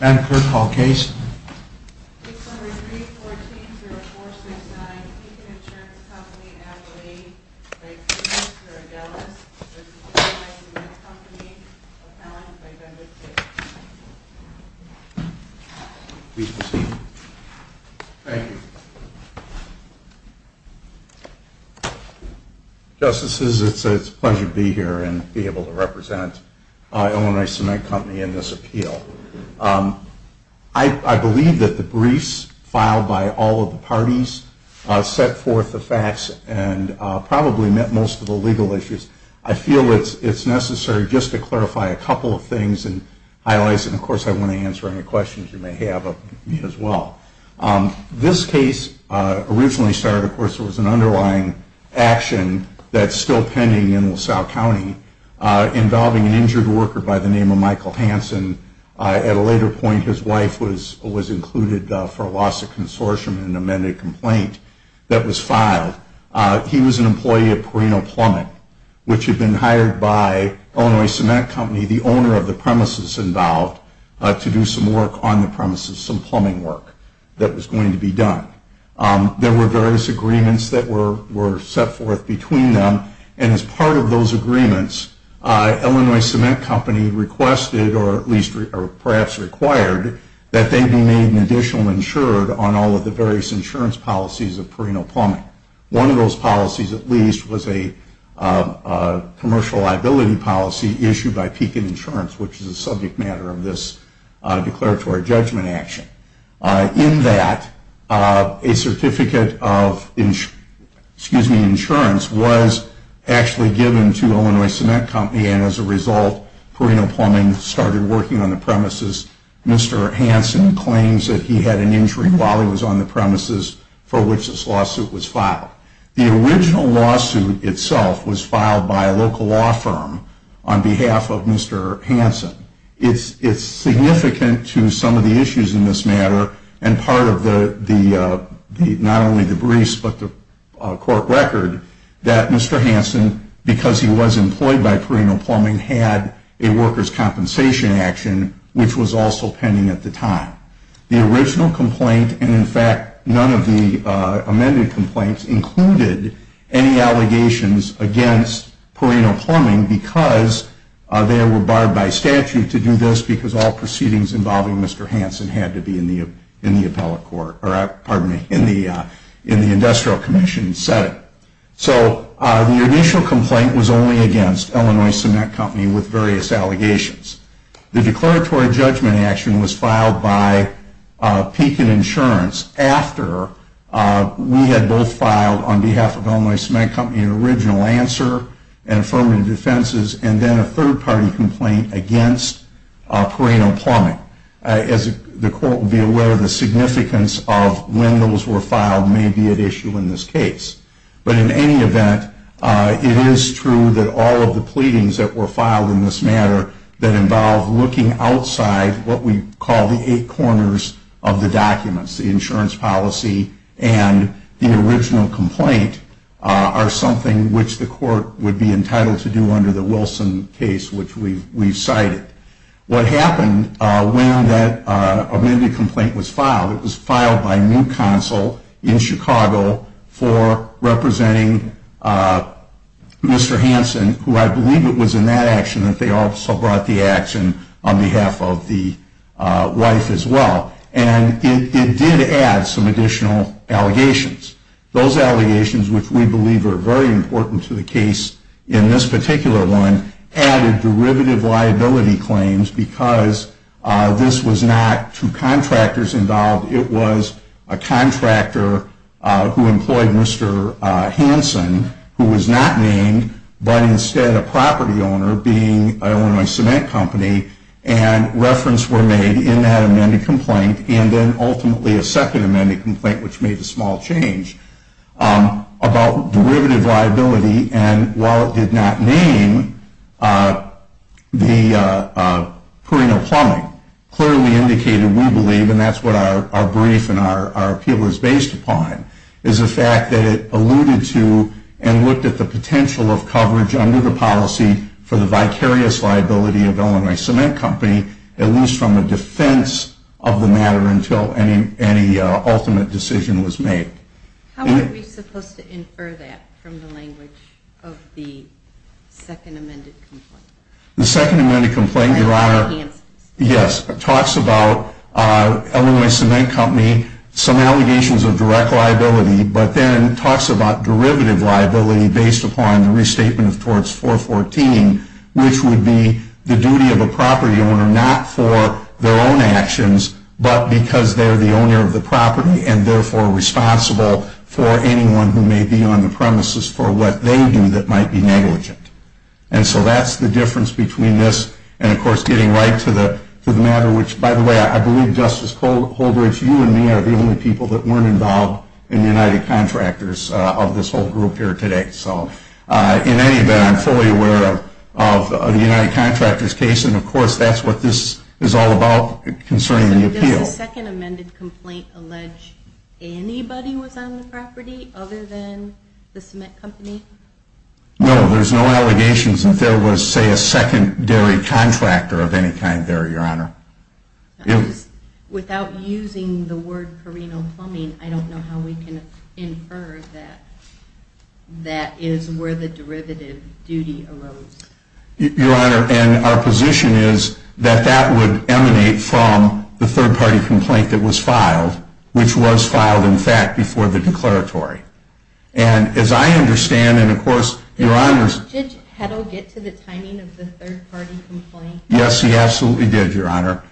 Madam Clerk, Hall case. Case number 314-0469, Pekin Insurance Company, Adelaide v. Pekin Cement Co., Dallas v. Illinois Cement Company, Appellant v. Benedict Hicks. Please proceed. Thank you. Justices, it's a pleasure to be here and be able to represent Illinois Cement Company in this appeal. I believe that the briefs filed by all of the parties set forth the facts and probably met most of the legal issues. I feel it's necessary just to clarify a couple of things and highlights, and of course I want to answer any questions you may have of me as well. This case originally started, of course, with an underlying action that's still pending in LaSalle County involving an injured worker by the name of Michael Hansen. At a later point, his wife was included for a loss of consortium in an amended complaint that was filed. He was an employee of Perino Plumbing, which had been hired by Illinois Cement Company, the owner of the premises involved, to do some work on the premises, some plumbing work that was going to be done. There were various agreements that were set forth between them, and as part of those agreements, Illinois Cement Company requested, or at least perhaps required, that they be made an additional insurer on all of the various insurance policies of Perino Plumbing. One of those policies, at least, was a commercial liability policy issued by Pekin Insurance, which is a subject matter of this declaratory judgment action. In that, a certificate of insurance was actually given to Illinois Cement Company, and as a result, Perino Plumbing started working on the premises. Mr. Hansen claims that he had an injury while he was on the premises for which this lawsuit was filed. The original lawsuit itself was filed by a local law firm on behalf of Mr. Hansen. It's significant to some of the issues in this matter, and part of not only the briefs but the court record, that Mr. Hansen, because he was employed by Perino Plumbing, had a workers' compensation action, which was also pending at the time. The original complaint, and in fact none of the amended complaints, included any allegations against Perino Plumbing because they were barred by statute to do this because all proceedings involving Mr. Hansen had to be in the industrial commission setting. So the initial complaint was only against Illinois Cement Company with various allegations. The declaratory judgment action was filed by Pekin Insurance after we had both filed, on behalf of Illinois Cement Company, an original answer and affirmative defenses and then a third-party complaint against Perino Plumbing. As the court will be aware, the significance of when those were filed may be at issue in this case. But in any event, it is true that all of the pleadings that were filed in this matter that involve looking outside what we call the eight corners of the documents, the insurance policy and the original complaint, are something which the court would be entitled to do under the Wilson case, which we've cited. What happened when that amended complaint was filed, it was filed by New Counsel in Chicago for representing Mr. Hansen, who I believe it was in that action that they also brought the action on behalf of the wife as well. And it did add some additional allegations. Those allegations, which we believe are very important to the case in this particular one, added derivative liability claims because this was not two contractors involved. It was a contractor who employed Mr. Hansen, who was not named, but instead a property owner being Illinois Cement Company, and reference were made in that amended complaint and then ultimately a second amended complaint, which made a small change, about derivative liability. And while it did not name Perino Plumbing, clearly indicated, we believe, and that's what our brief and our appeal is based upon, is the fact that it alluded to and looked at the potential of coverage under the policy for the vicarious liability of Illinois Cement Company, at least from the defense of the matter until any ultimate decision was made. How are we supposed to infer that from the language of the second amended complaint? The second amended complaint, Your Honor, yes, talks about Illinois Cement Company, some allegations of direct liability, but then talks about derivative liability based upon the restatement of Torts 414, which would be the duty of a property owner not for their own actions, but because they're the owner of the property and therefore responsible for anyone who may be on the premises for what they do that might be negligent. And so that's the difference between this and, of course, getting right to the matter, which, by the way, I believe, Justice Holbrook, you and me are the only people that weren't involved in the United Contractors of this whole group here today. So in any event, I'm fully aware of the United Contractors case and, of course, that's what this is all about concerning the appeal. Does the second amended complaint allege anybody was on the property other than the cement company? No, there's no allegations that there was, say, a secondary contractor of any kind there, Your Honor. Without using the word Carino Plumbing, I don't know how we can infer that that is where the derivative duty arose. Your Honor, and our position is that that would emanate from the third party complaint that was filed, which was filed, in fact, before the declaratory. And as I understand, and of course, Your Honor's- Did Judge Heddle get to the timing of the third party complaint? Yes, he absolutely did, Your Honor.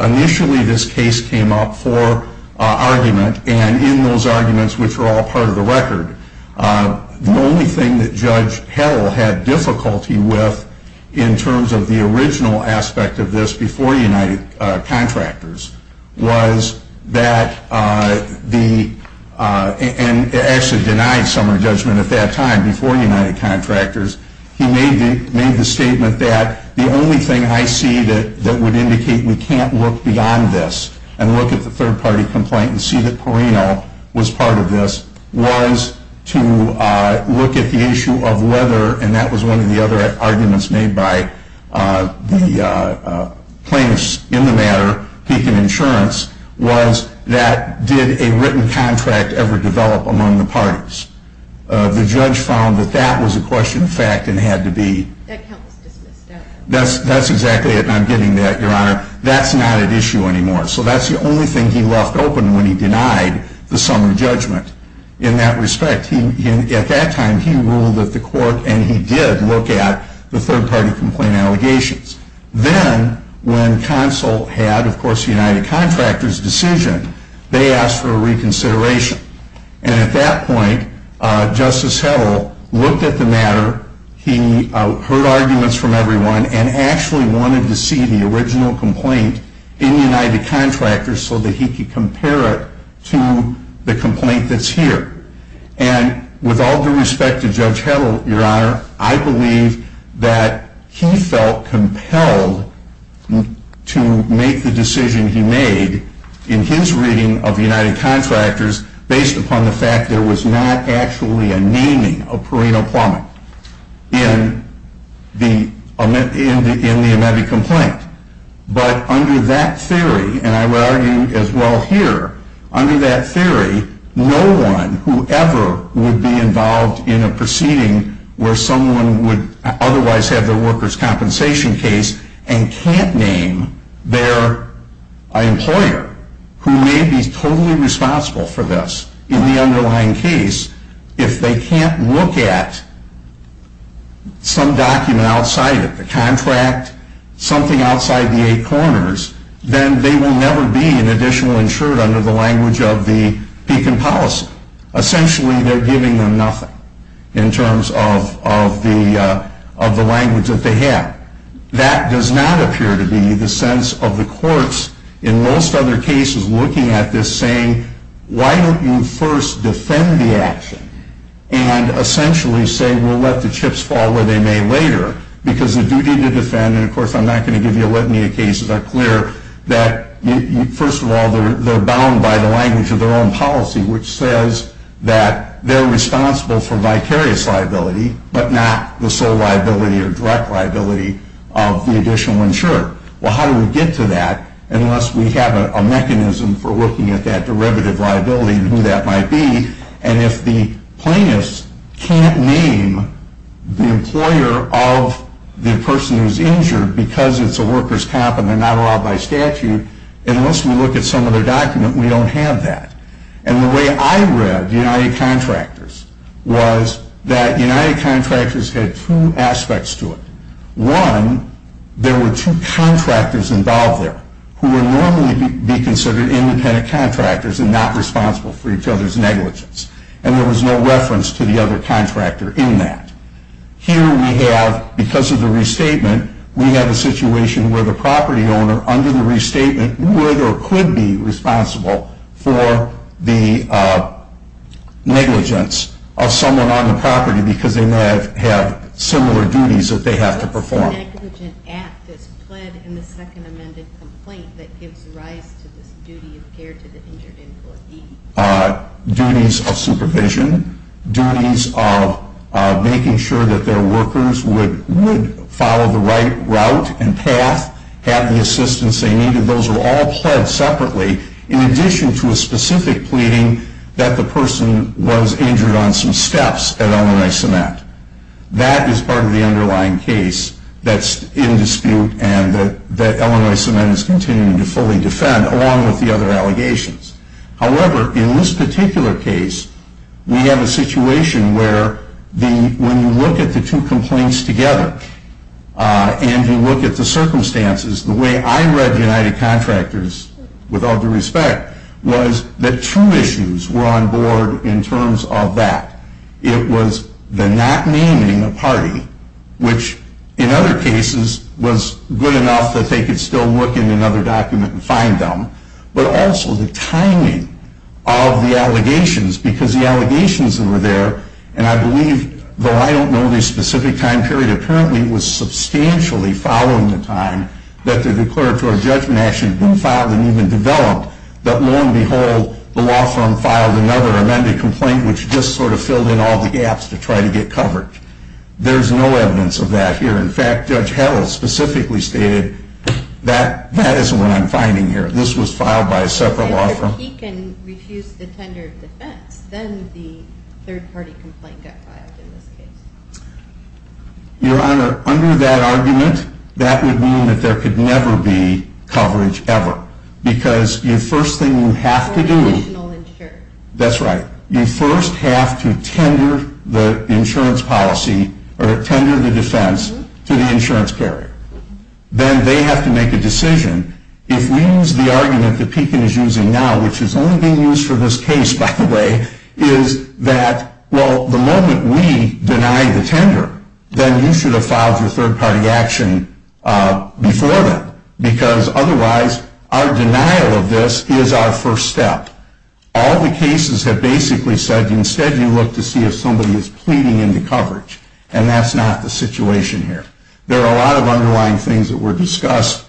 Initially, this case came up for argument, and in those arguments, which are all part of the record, the only thing that Judge Heddle had difficulty with in terms of the original aspect of this before United Contractors was that the- and actually denied summary judgment at that time, before United Contractors- he made the statement that the only thing I see that would indicate we can't look beyond this and look at the third party complaint and see that Carino was part of this was to look at the issue of whether, and that was one of the other arguments made by the plaintiffs in the matter, Pekin Insurance, was that did a written contract ever develop among the parties? The judge found that that was a question of fact and had to be- That count was dismissed. That's exactly it, and I'm getting that, Your Honor. That's not at issue anymore. So that's the only thing he left open when he denied the summary judgment in that respect. At that time, he ruled that the court- and he did look at the third party complaint allegations. Then, when counsel had, of course, United Contractors' decision, they asked for a reconsideration. And at that point, Justice Heddle looked at the matter, he heard arguments from everyone, and actually wanted to see the original complaint in United Contractors so that he could compare it to the complaint that's here. And with all due respect to Judge Heddle, Your Honor, I believe that he felt compelled to make the decision he made in his reading of United Contractors based upon the fact there was not actually a naming of Perino Plummet in the amebic complaint. But under that theory, and I would argue as well here, under that theory, no one who ever would be involved in a proceeding where someone would otherwise have their workers' compensation case and can't name their employer who may be totally responsible for this in the underlying case, if they can't look at some document outside of the contract, something outside the eight corners, then they will never be an additional insured under the language of the Pekin policy. Essentially, they're giving them nothing in terms of the language that they have. That does not appear to be the sense of the courts in most other cases looking at this saying, why don't you first defend the action and essentially say we'll let the chips fall where they may later because the duty to defend, and of course I'm not going to give you a litany of cases that are clear, that first of all, they're bound by the language of their own policy, which says that they're responsible for vicarious liability, but not the sole liability or direct liability of the additional insurer. Well, how do we get to that unless we have a mechanism for looking at that derivative liability and who that might be, and if the plaintiffs can't name the employer of the person who's injured because it's a worker's comp and they're not allowed by statute, and unless we look at some other document, we don't have that. And the way I read United Contractors was that United Contractors had two aspects to it. One, there were two contractors involved there who would normally be considered independent contractors and not responsible for each other's negligence, and there was no reference to the other contractor in that. Here we have, because of the restatement, we have a situation where the property owner under the restatement would or could be responsible for the negligence of someone on the property because they may have similar duties that they have to perform. What negligent act is pled in the second amended complaint that gives rise to this duty of care to the injured employee? Duties of supervision, duties of making sure that their workers would follow the right route and path, have the assistance they needed, those are all pled separately, in addition to a specific pleading that the person was injured on some steps at L&I CEMET. That is part of the underlying case that's in dispute and that L&I CEMET is continuing to fully defend, along with the other allegations. However, in this particular case, we have a situation where when you look at the two complaints together and you look at the circumstances, the way I read United Contractors, with all due respect, was that two issues were on board in terms of that. It was the not naming a party, which in other cases was good enough that they could still look in another document and find them, but also the timing of the allegations because the allegations that were there, and I believe, though I don't know the specific time period, apparently it was substantially following the time that the declaratory judgment action had been filed and even developed that, lo and behold, the law firm filed another amended complaint which just sort of filled in all the gaps to try to get coverage. There's no evidence of that here. In fact, Judge Howell specifically stated that that isn't what I'm finding here. This was filed by a separate law firm. If he can refuse the tender of defense, then the third-party complaint got filed in this case. Your Honor, under that argument, that would mean that there could never be coverage ever because the first thing you have to do... Or additional insurance. That's right. You first have to tender the insurance policy or tender the defense to the insurance carrier. Then they have to make a decision. If we use the argument that Pekin is using now, which is only being used for this case, by the way, is that, well, the moment we deny the tender, then you should have filed your third-party action before then because otherwise our denial of this is our first step. All the cases have basically said instead you look to see if somebody is pleading into coverage, and that's not the situation here. There are a lot of underlying things that were discussed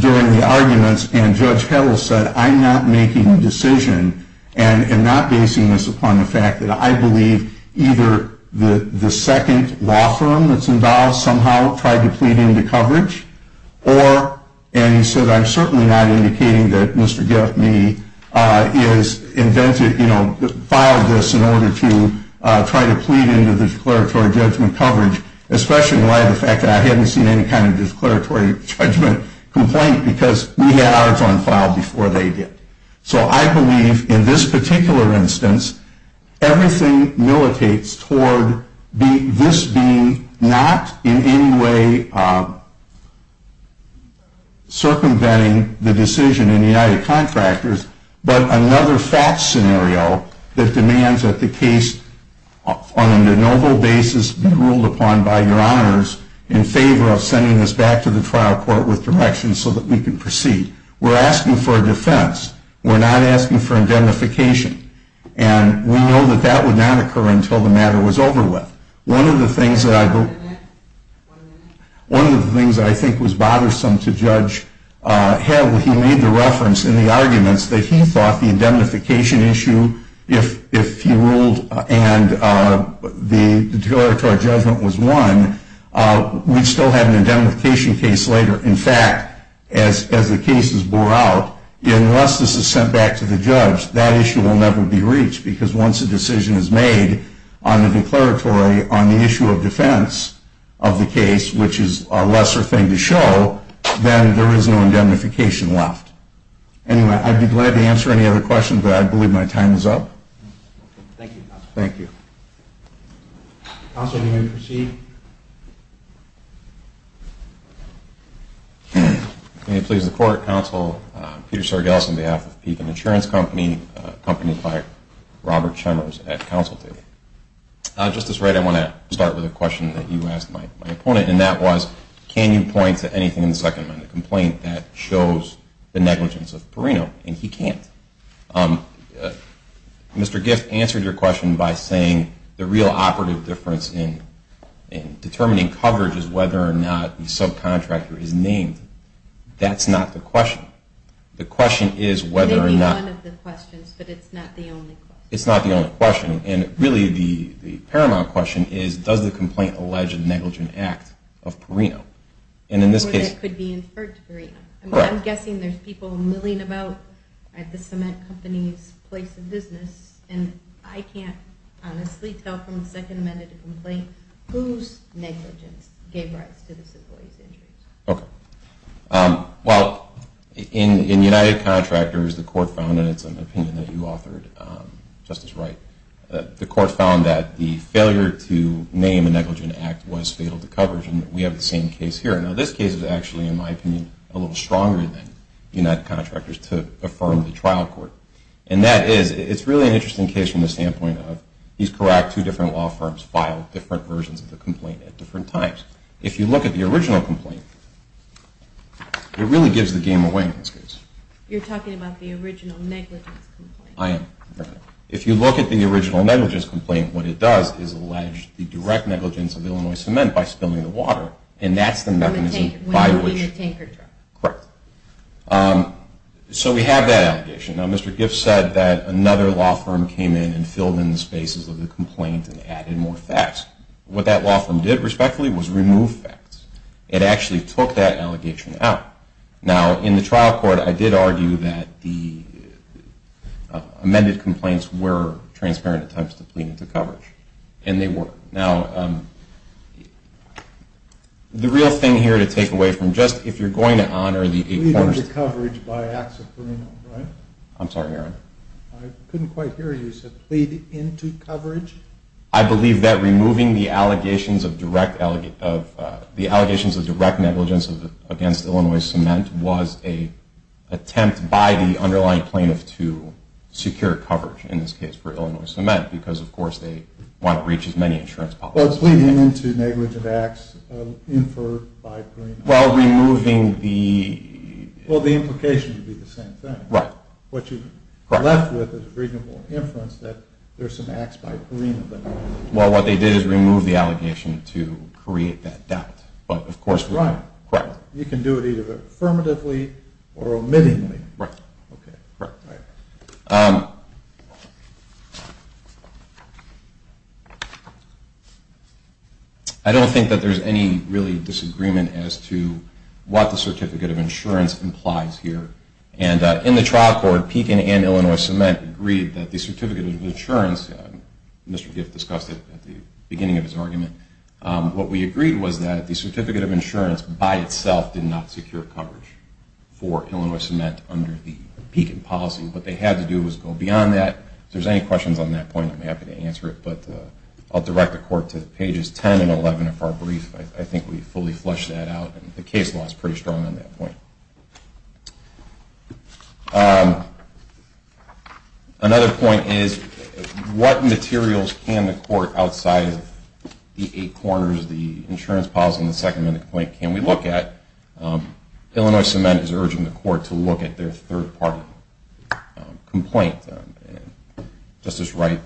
during the arguments, and Judge Howell said, I'm not making a decision and am not basing this upon the fact that I believe either the second law firm that's involved somehow tried to plead into coverage, or, and he said, I'm certainly not indicating that Mr. Getme filed this in order to try to plead into the declaratory judgment coverage, especially in light of the fact that I haven't seen any kind of declaratory judgment complaint because we had ours on file before they did. So I believe in this particular instance, everything militates toward this being not in any way circumventing the decision in the United Contractors, but another fact scenario that demands that the case on a noble basis be ruled upon by your honors in favor of sending this back to the trial court with direction so that we can proceed. We're asking for a defense. We're not asking for indemnification, and we know that that would not occur until the matter was over with. One of the things that I think was bothersome to Judge Howell, he made the reference in the arguments that he thought the indemnification issue, if he ruled and the declaratory judgment was won, we'd still have an indemnification case later. In fact, as the case is bore out, unless this is sent back to the judge, that issue will never be reached because once a decision is made on the declaratory on the issue of defense of the case, which is a lesser thing to show, then there is no indemnification left. Anyway, I'd be glad to answer any other questions, but I believe my time is up. Thank you, Counselor. Thank you. Counselor, are you going to proceed? May it please the Court. Counsel Peter Sargeles on behalf of Pekin Insurance Company, accompanied by Robert Chemers at counsel today. Justice Wright, I want to start with a question that you asked my opponent, and that was can you point to anything in the Second Amendment complaint that shows the negligence of Perino, and he can't. Mr. Giff answered your question by saying the real operative difference in determining coverage is whether or not the subcontractor is named. That's not the question. The question is whether or not. It may be one of the questions, but it's not the only question. It's not the only question, and really the paramount question is, does the complaint allege a negligent act of Perino? Or it could be inferred to Perino. I'm guessing there's people milling about at the cement company's place of business, and I can't honestly tell from the Second Amendment complaint whose negligence gave rise to the civil case injuries. Okay. Well, in United Contractors, the Court found, and it's an opinion that you authored, Justice Wright, the Court found that the failure to name a negligent act was fatal to coverage, and we have the same case here. Now, this case is actually, in my opinion, a little stronger than United Contractors to affirm the trial court. And that is, it's really an interesting case from the standpoint of, he's correct, two different law firms filed different versions of the complaint at different times. If you look at the original complaint, it really gives the game away in this case. You're talking about the original negligence complaint. I am. If you look at the original negligence complaint, what it does is allege the direct negligence of Illinois Cement by spilling the water, and that's the mechanism by which. When moving a tanker truck. Correct. So we have that allegation. Now, Mr. Giff said that another law firm came in and filled in the spaces of the complaint and added more facts. What that law firm did, respectfully, was remove facts. It actually took that allegation out. Now, in the trial court, I did argue that the amended complaints were transparent attempts to plead into coverage, and they were. Now, the real thing here to take away from just, if you're going to honor the. Plead into coverage by acts of Perino, right? I'm sorry, Aaron. I couldn't quite hear you. You said plead into coverage? I believe that removing the allegations of direct negligence against Illinois Cement was an attempt by the underlying plaintiff to secure coverage, in this case for Illinois Cement, because, of course, they want to breach as many insurance policies. Well, it's pleading into negligent acts inferred by Perino. Well, removing the... Well, the implication would be the same thing. Right. What you're left with is a reasonable inference that there's some acts by Perino that... Well, what they did is remove the allegation to create that doubt, but, of course... That's right. Correct. You can do it either affirmatively or omittingly. Right. Okay. Right. All right. I don't think that there's any, really, disagreement as to what the certificate of insurance implies here. And in the trial court, Pekin and Illinois Cement agreed that the certificate of insurance... Mr. Giff discussed it at the beginning of his argument. What we agreed was that the certificate of insurance by itself did not secure coverage for Illinois Cement under the Pekin policy. What they had to do was go beyond that. If there's any questions on that point, I'm happy to answer it. But I'll direct the court to pages 10 and 11 of our brief. I think we fully fleshed that out. The case law is pretty strong on that point. Another point is what materials can the court, outside of the eight corners, the insurance policy and the Second Amendment complaint, can we look at? Illinois Cement is urging the court to look at their third-party complaint. Justice Wright,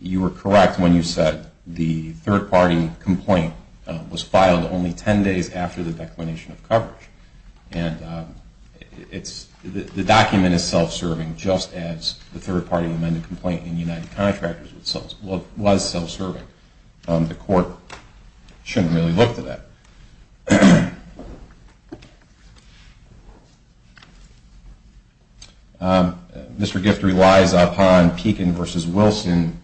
you were correct when you said the third-party complaint was filed only 10 days after the declination of coverage. The document is self-serving just as the third-party amended complaint in United Contractors was self-serving. The court shouldn't really look to that. Mr. Giff relies upon Pekin v. Wilson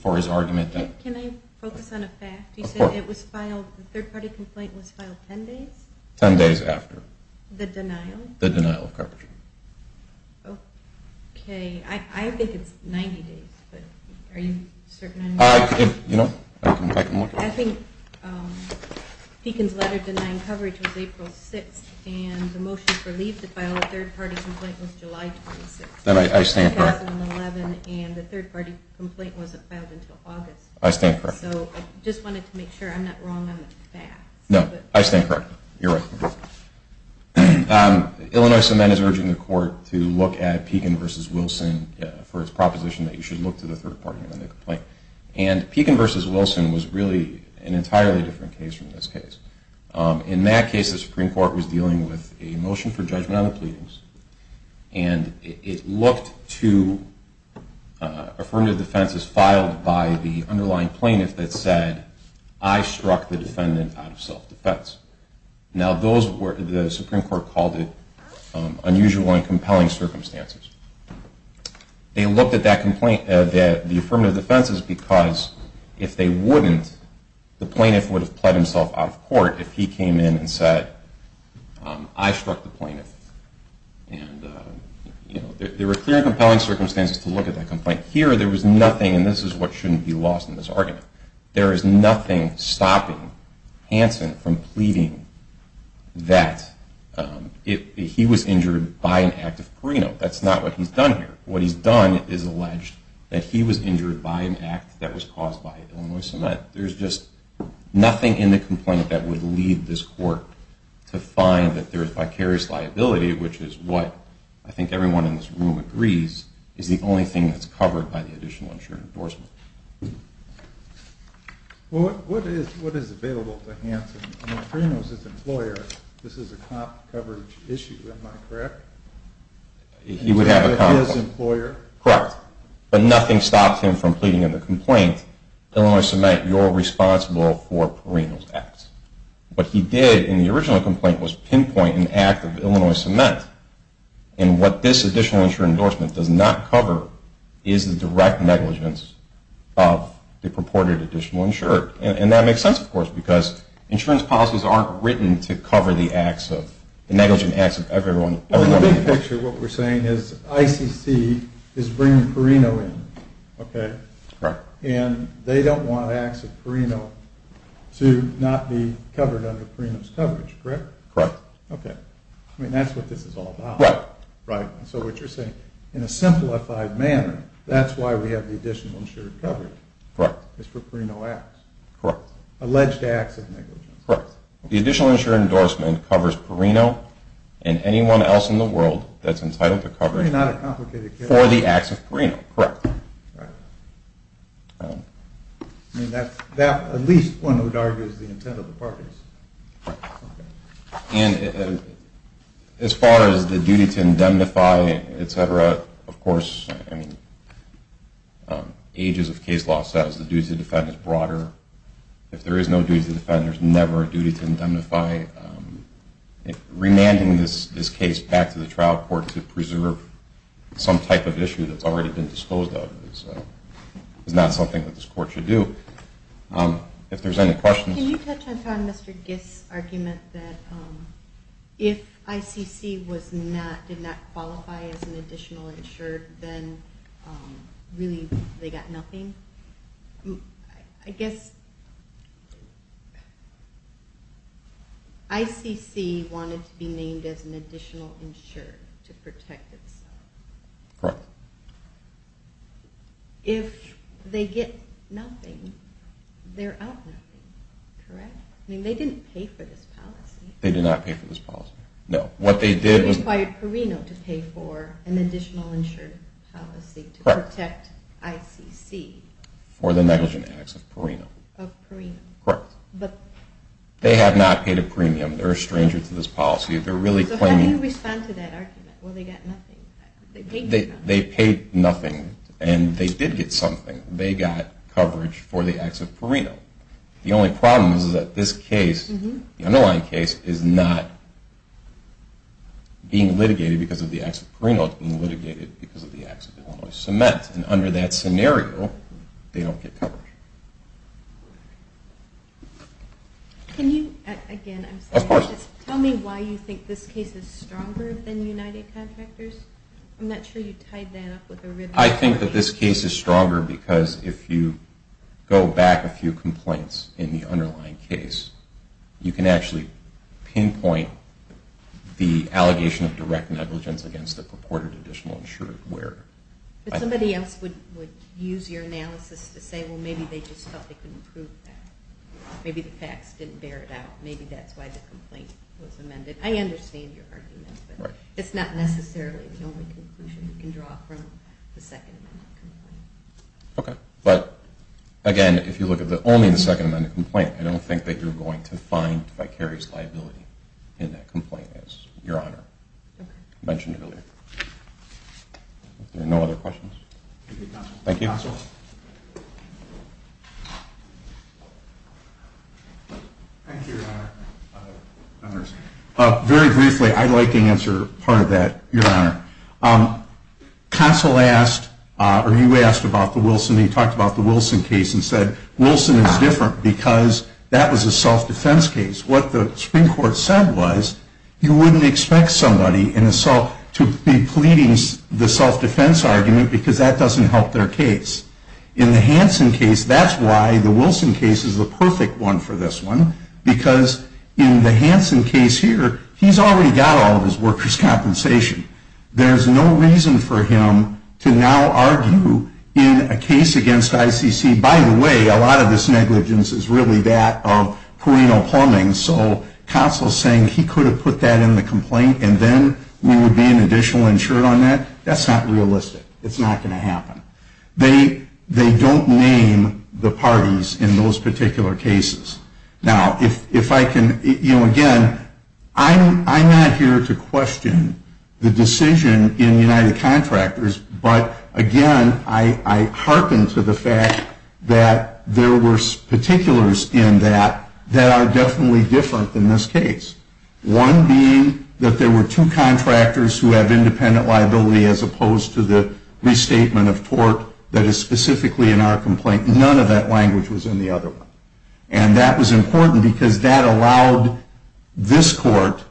for his argument. Can I focus on a fact? Of course. You said the third-party complaint was filed 10 days? The denial? The denial of coverage. Okay. I think it's 90 days. Are you certain? You know, I can look. I think Pekin's letter denying coverage was April 6th, and the motion for leave to file a third-party complaint was July 26th, 2011. I stand corrected. And the third-party complaint wasn't filed until August. I stand corrected. So I just wanted to make sure I'm not wrong on the facts. No, I stand corrected. You're right. Illinois Summit is urging the court to look at Pekin v. Wilson for its proposition that you should look to the third-party amendment complaint. And Pekin v. Wilson was really an entirely different case from this case. In that case, the Supreme Court was dealing with a motion for judgment on the pleadings, and it looked to affirmative defenses filed by the underlying plaintiff that said, I struck the defendant out of self-defense. Now, the Supreme Court called it unusual and compelling circumstances. They looked at that complaint, the affirmative defenses, because if they wouldn't, the plaintiff would have pled himself out of court if he came in and said, I struck the plaintiff. And there were clear and compelling circumstances to look at that complaint. Here there was nothing, and this is what shouldn't be lost in this argument. There is nothing stopping Hansen from pleading that he was injured by an act of perino. That's not what he's done here. What he's done is allege that he was injured by an act that was caused by Illinois Summit. There's just nothing in the complaint that would lead this court to find that there is vicarious liability, which is what I think everyone in this room agrees is the only thing that's covered by the additional insured endorsement. Well, what is available to Hansen? Perino is his employer. This is a cop coverage issue, am I correct? He would have a cop. He's his employer. Correct. But nothing stops him from pleading in the complaint, Illinois Summit, you're responsible for Perino's acts. What he did in the original complaint was pinpoint an act of Illinois Summit. And what this additional insured endorsement does not cover is the direct negligence of the purported additional insured. And that makes sense, of course, because insurance policies aren't written to cover the acts of, the negligent acts of everyone. In the big picture, what we're saying is ICC is bringing Perino in, okay? Correct. And they don't want acts of Perino to not be covered under Perino's coverage, correct? Correct. Okay. I mean, that's what this is all about. Right. Right. And so what you're saying, in a simplified manner, that's why we have the additional insured coverage. Correct. It's for Perino acts. Correct. Alleged acts of negligence. Correct. The additional insured endorsement covers Perino and anyone else in the world that's entitled to coverage for the acts of Perino. Correct. Right. I mean, that, at least one would argue, is the intent of the parties. Right. And as far as the duty to indemnify, et cetera, of course, I mean, ages of case law says the duty to defend is broader. If there is no duty to defend, there's never a duty to indemnify. Remanding this case back to the trial court to preserve some type of issue that's already been disposed of is not something that this court should do. If there's any questions. Can you touch upon Mr. Giss' argument that if ICC did not qualify as an additional insured, then really they got nothing? I guess ICC wanted to be named as an additional insured to protect itself. Correct. If they get nothing, they're out nothing. Correct? I mean, they didn't pay for this policy. They did not pay for this policy. No. They required Perino to pay for an additional insured policy to protect ICC. Correct. For the negligent acts of Perino. Of Perino. Correct. But. They have not paid a premium. They're a stranger to this policy. They're really claiming. So how do you respond to that argument? Well, they got nothing. They paid nothing. They paid nothing, and they did get something. They got coverage for the acts of Perino. The only problem is that this case, the underlying case, is not being litigated because of the acts of Perino. It's being litigated because of the acts of Illinois Cement. And under that scenario, they don't get coverage. Can you, again, I'm sorry. Of course. Tell me why you think this case is stronger than United Contractors. I'm not sure you tied that up with a written argument. I think that this case is stronger because if you go back a few complaints in the underlying case, you can actually pinpoint the allegation of direct negligence against the purported additional insured where. Somebody else would use your analysis to say, well, maybe they just felt they couldn't prove that. Maybe the facts didn't bear it out. Maybe that's why the complaint was amended. I understand your argument. Right. It's not necessarily the only conclusion you can draw from the second amendment complaint. Okay. But, again, if you look at only the second amendment complaint, I don't think that you're going to find vicarious liability in that complaint, as Your Honor mentioned earlier. Are there no other questions? Thank you. Counsel. Thank you, Your Honor. Very briefly, I'd like to answer part of that, Your Honor. Counsel asked, or you asked about the Wilson. He talked about the Wilson case and said Wilson is different because that was a self-defense case. What the Supreme Court said was you wouldn't expect somebody to be pleading the self-defense argument because that doesn't help their case. In the Hansen case, that's why the Wilson case is the perfect one for this one because in the Hansen case here, he's already got all of his workers' compensation. There's no reason for him to now argue in a case against ICC. By the way, a lot of this negligence is really that of Perino Plumbing, so counsel saying he could have put that in the complaint and then we would be an additional insurer on that, that's not realistic. It's not going to happen. They don't name the parties in those particular cases. Now, if I can, you know, again, I'm not here to question the decision in United Contractors, but again, I hearken to the fact that there were particulars in that that are definitely different than this case, one being that there were two contractors who have independent liability as opposed to the restatement of tort that is specifically in our complaint. None of that language was in the other one, and that was important because that allowed this court,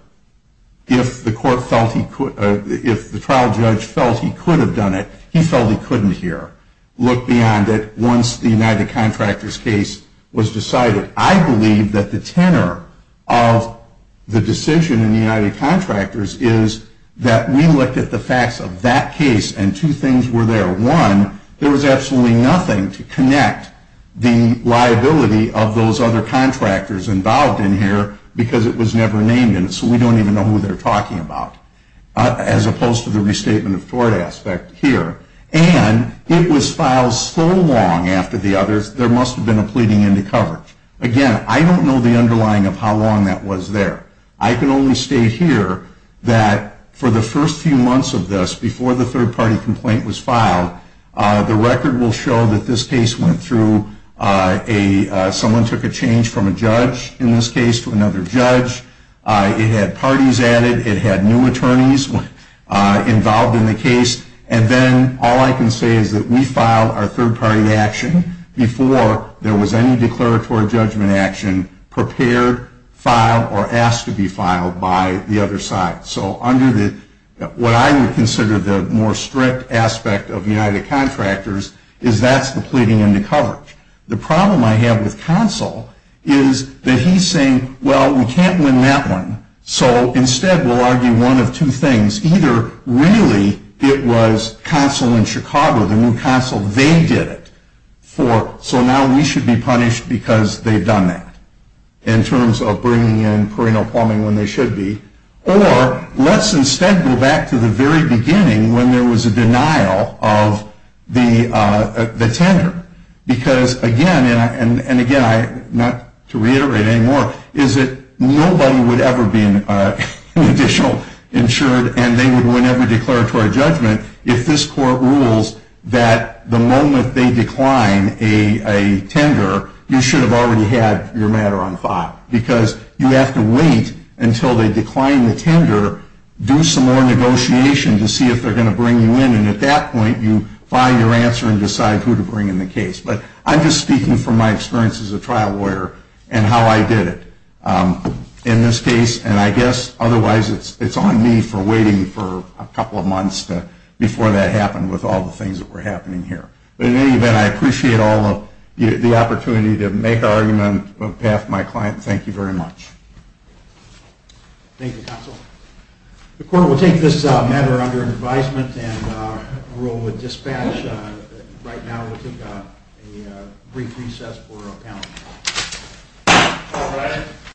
if the trial judge felt he could have done it, he felt he couldn't here, look beyond it once the United Contractors case was decided. I believe that the tenor of the decision in the United Contractors is that we looked at the facts of that case and two things were there. One, there was absolutely nothing to connect the liability of those other contractors involved in here because it was never named in it, so we don't even know who they're talking about, as opposed to the restatement of tort aspect here. And it was filed so long after the others, there must have been a pleading in the coverage. Again, I don't know the underlying of how long that was there. I can only state here that for the first few months of this, before the third-party complaint was filed, the record will show that this case went through, someone took a change from a judge in this case to another judge, it had parties added, it had new attorneys involved in the case, and then all I can say is that we filed our third-party action before there was any declaratory judgment action prepared, filed, or asked to be filed by the other side. So what I would consider the more strict aspect of United Contractors is that's the pleading in the coverage. The problem I have with Consul is that he's saying, well, we can't win that one, so instead we'll argue one of two things. Either really it was Consul in Chicago, the new Consul, they did it, so now we should be punished because they've done that in terms of bringing in Perino-Palmer when they should be, or let's instead go back to the very beginning when there was a denial of the tender. Because, again, and again, not to reiterate anymore, is that nobody would ever be an additional insured and they would win every declaratory judgment if this court rules that the moment they decline a tender you should have already had your matter on file. Because you have to wait until they decline the tender, do some more negotiation to see if they're going to bring you in, and at that point you find your answer and decide who to bring in the case. But I'm just speaking from my experience as a trial lawyer and how I did it in this case, and I guess otherwise it's on me for waiting for a couple of months before that happened with all the things that were happening here. But in any event, I appreciate all of the opportunity to make an argument on behalf of my client. Thank you very much. Thank you, Consul. The court will take this matter under advisement and rule with dispatch. Right now we'll take a brief recess for panel. All right.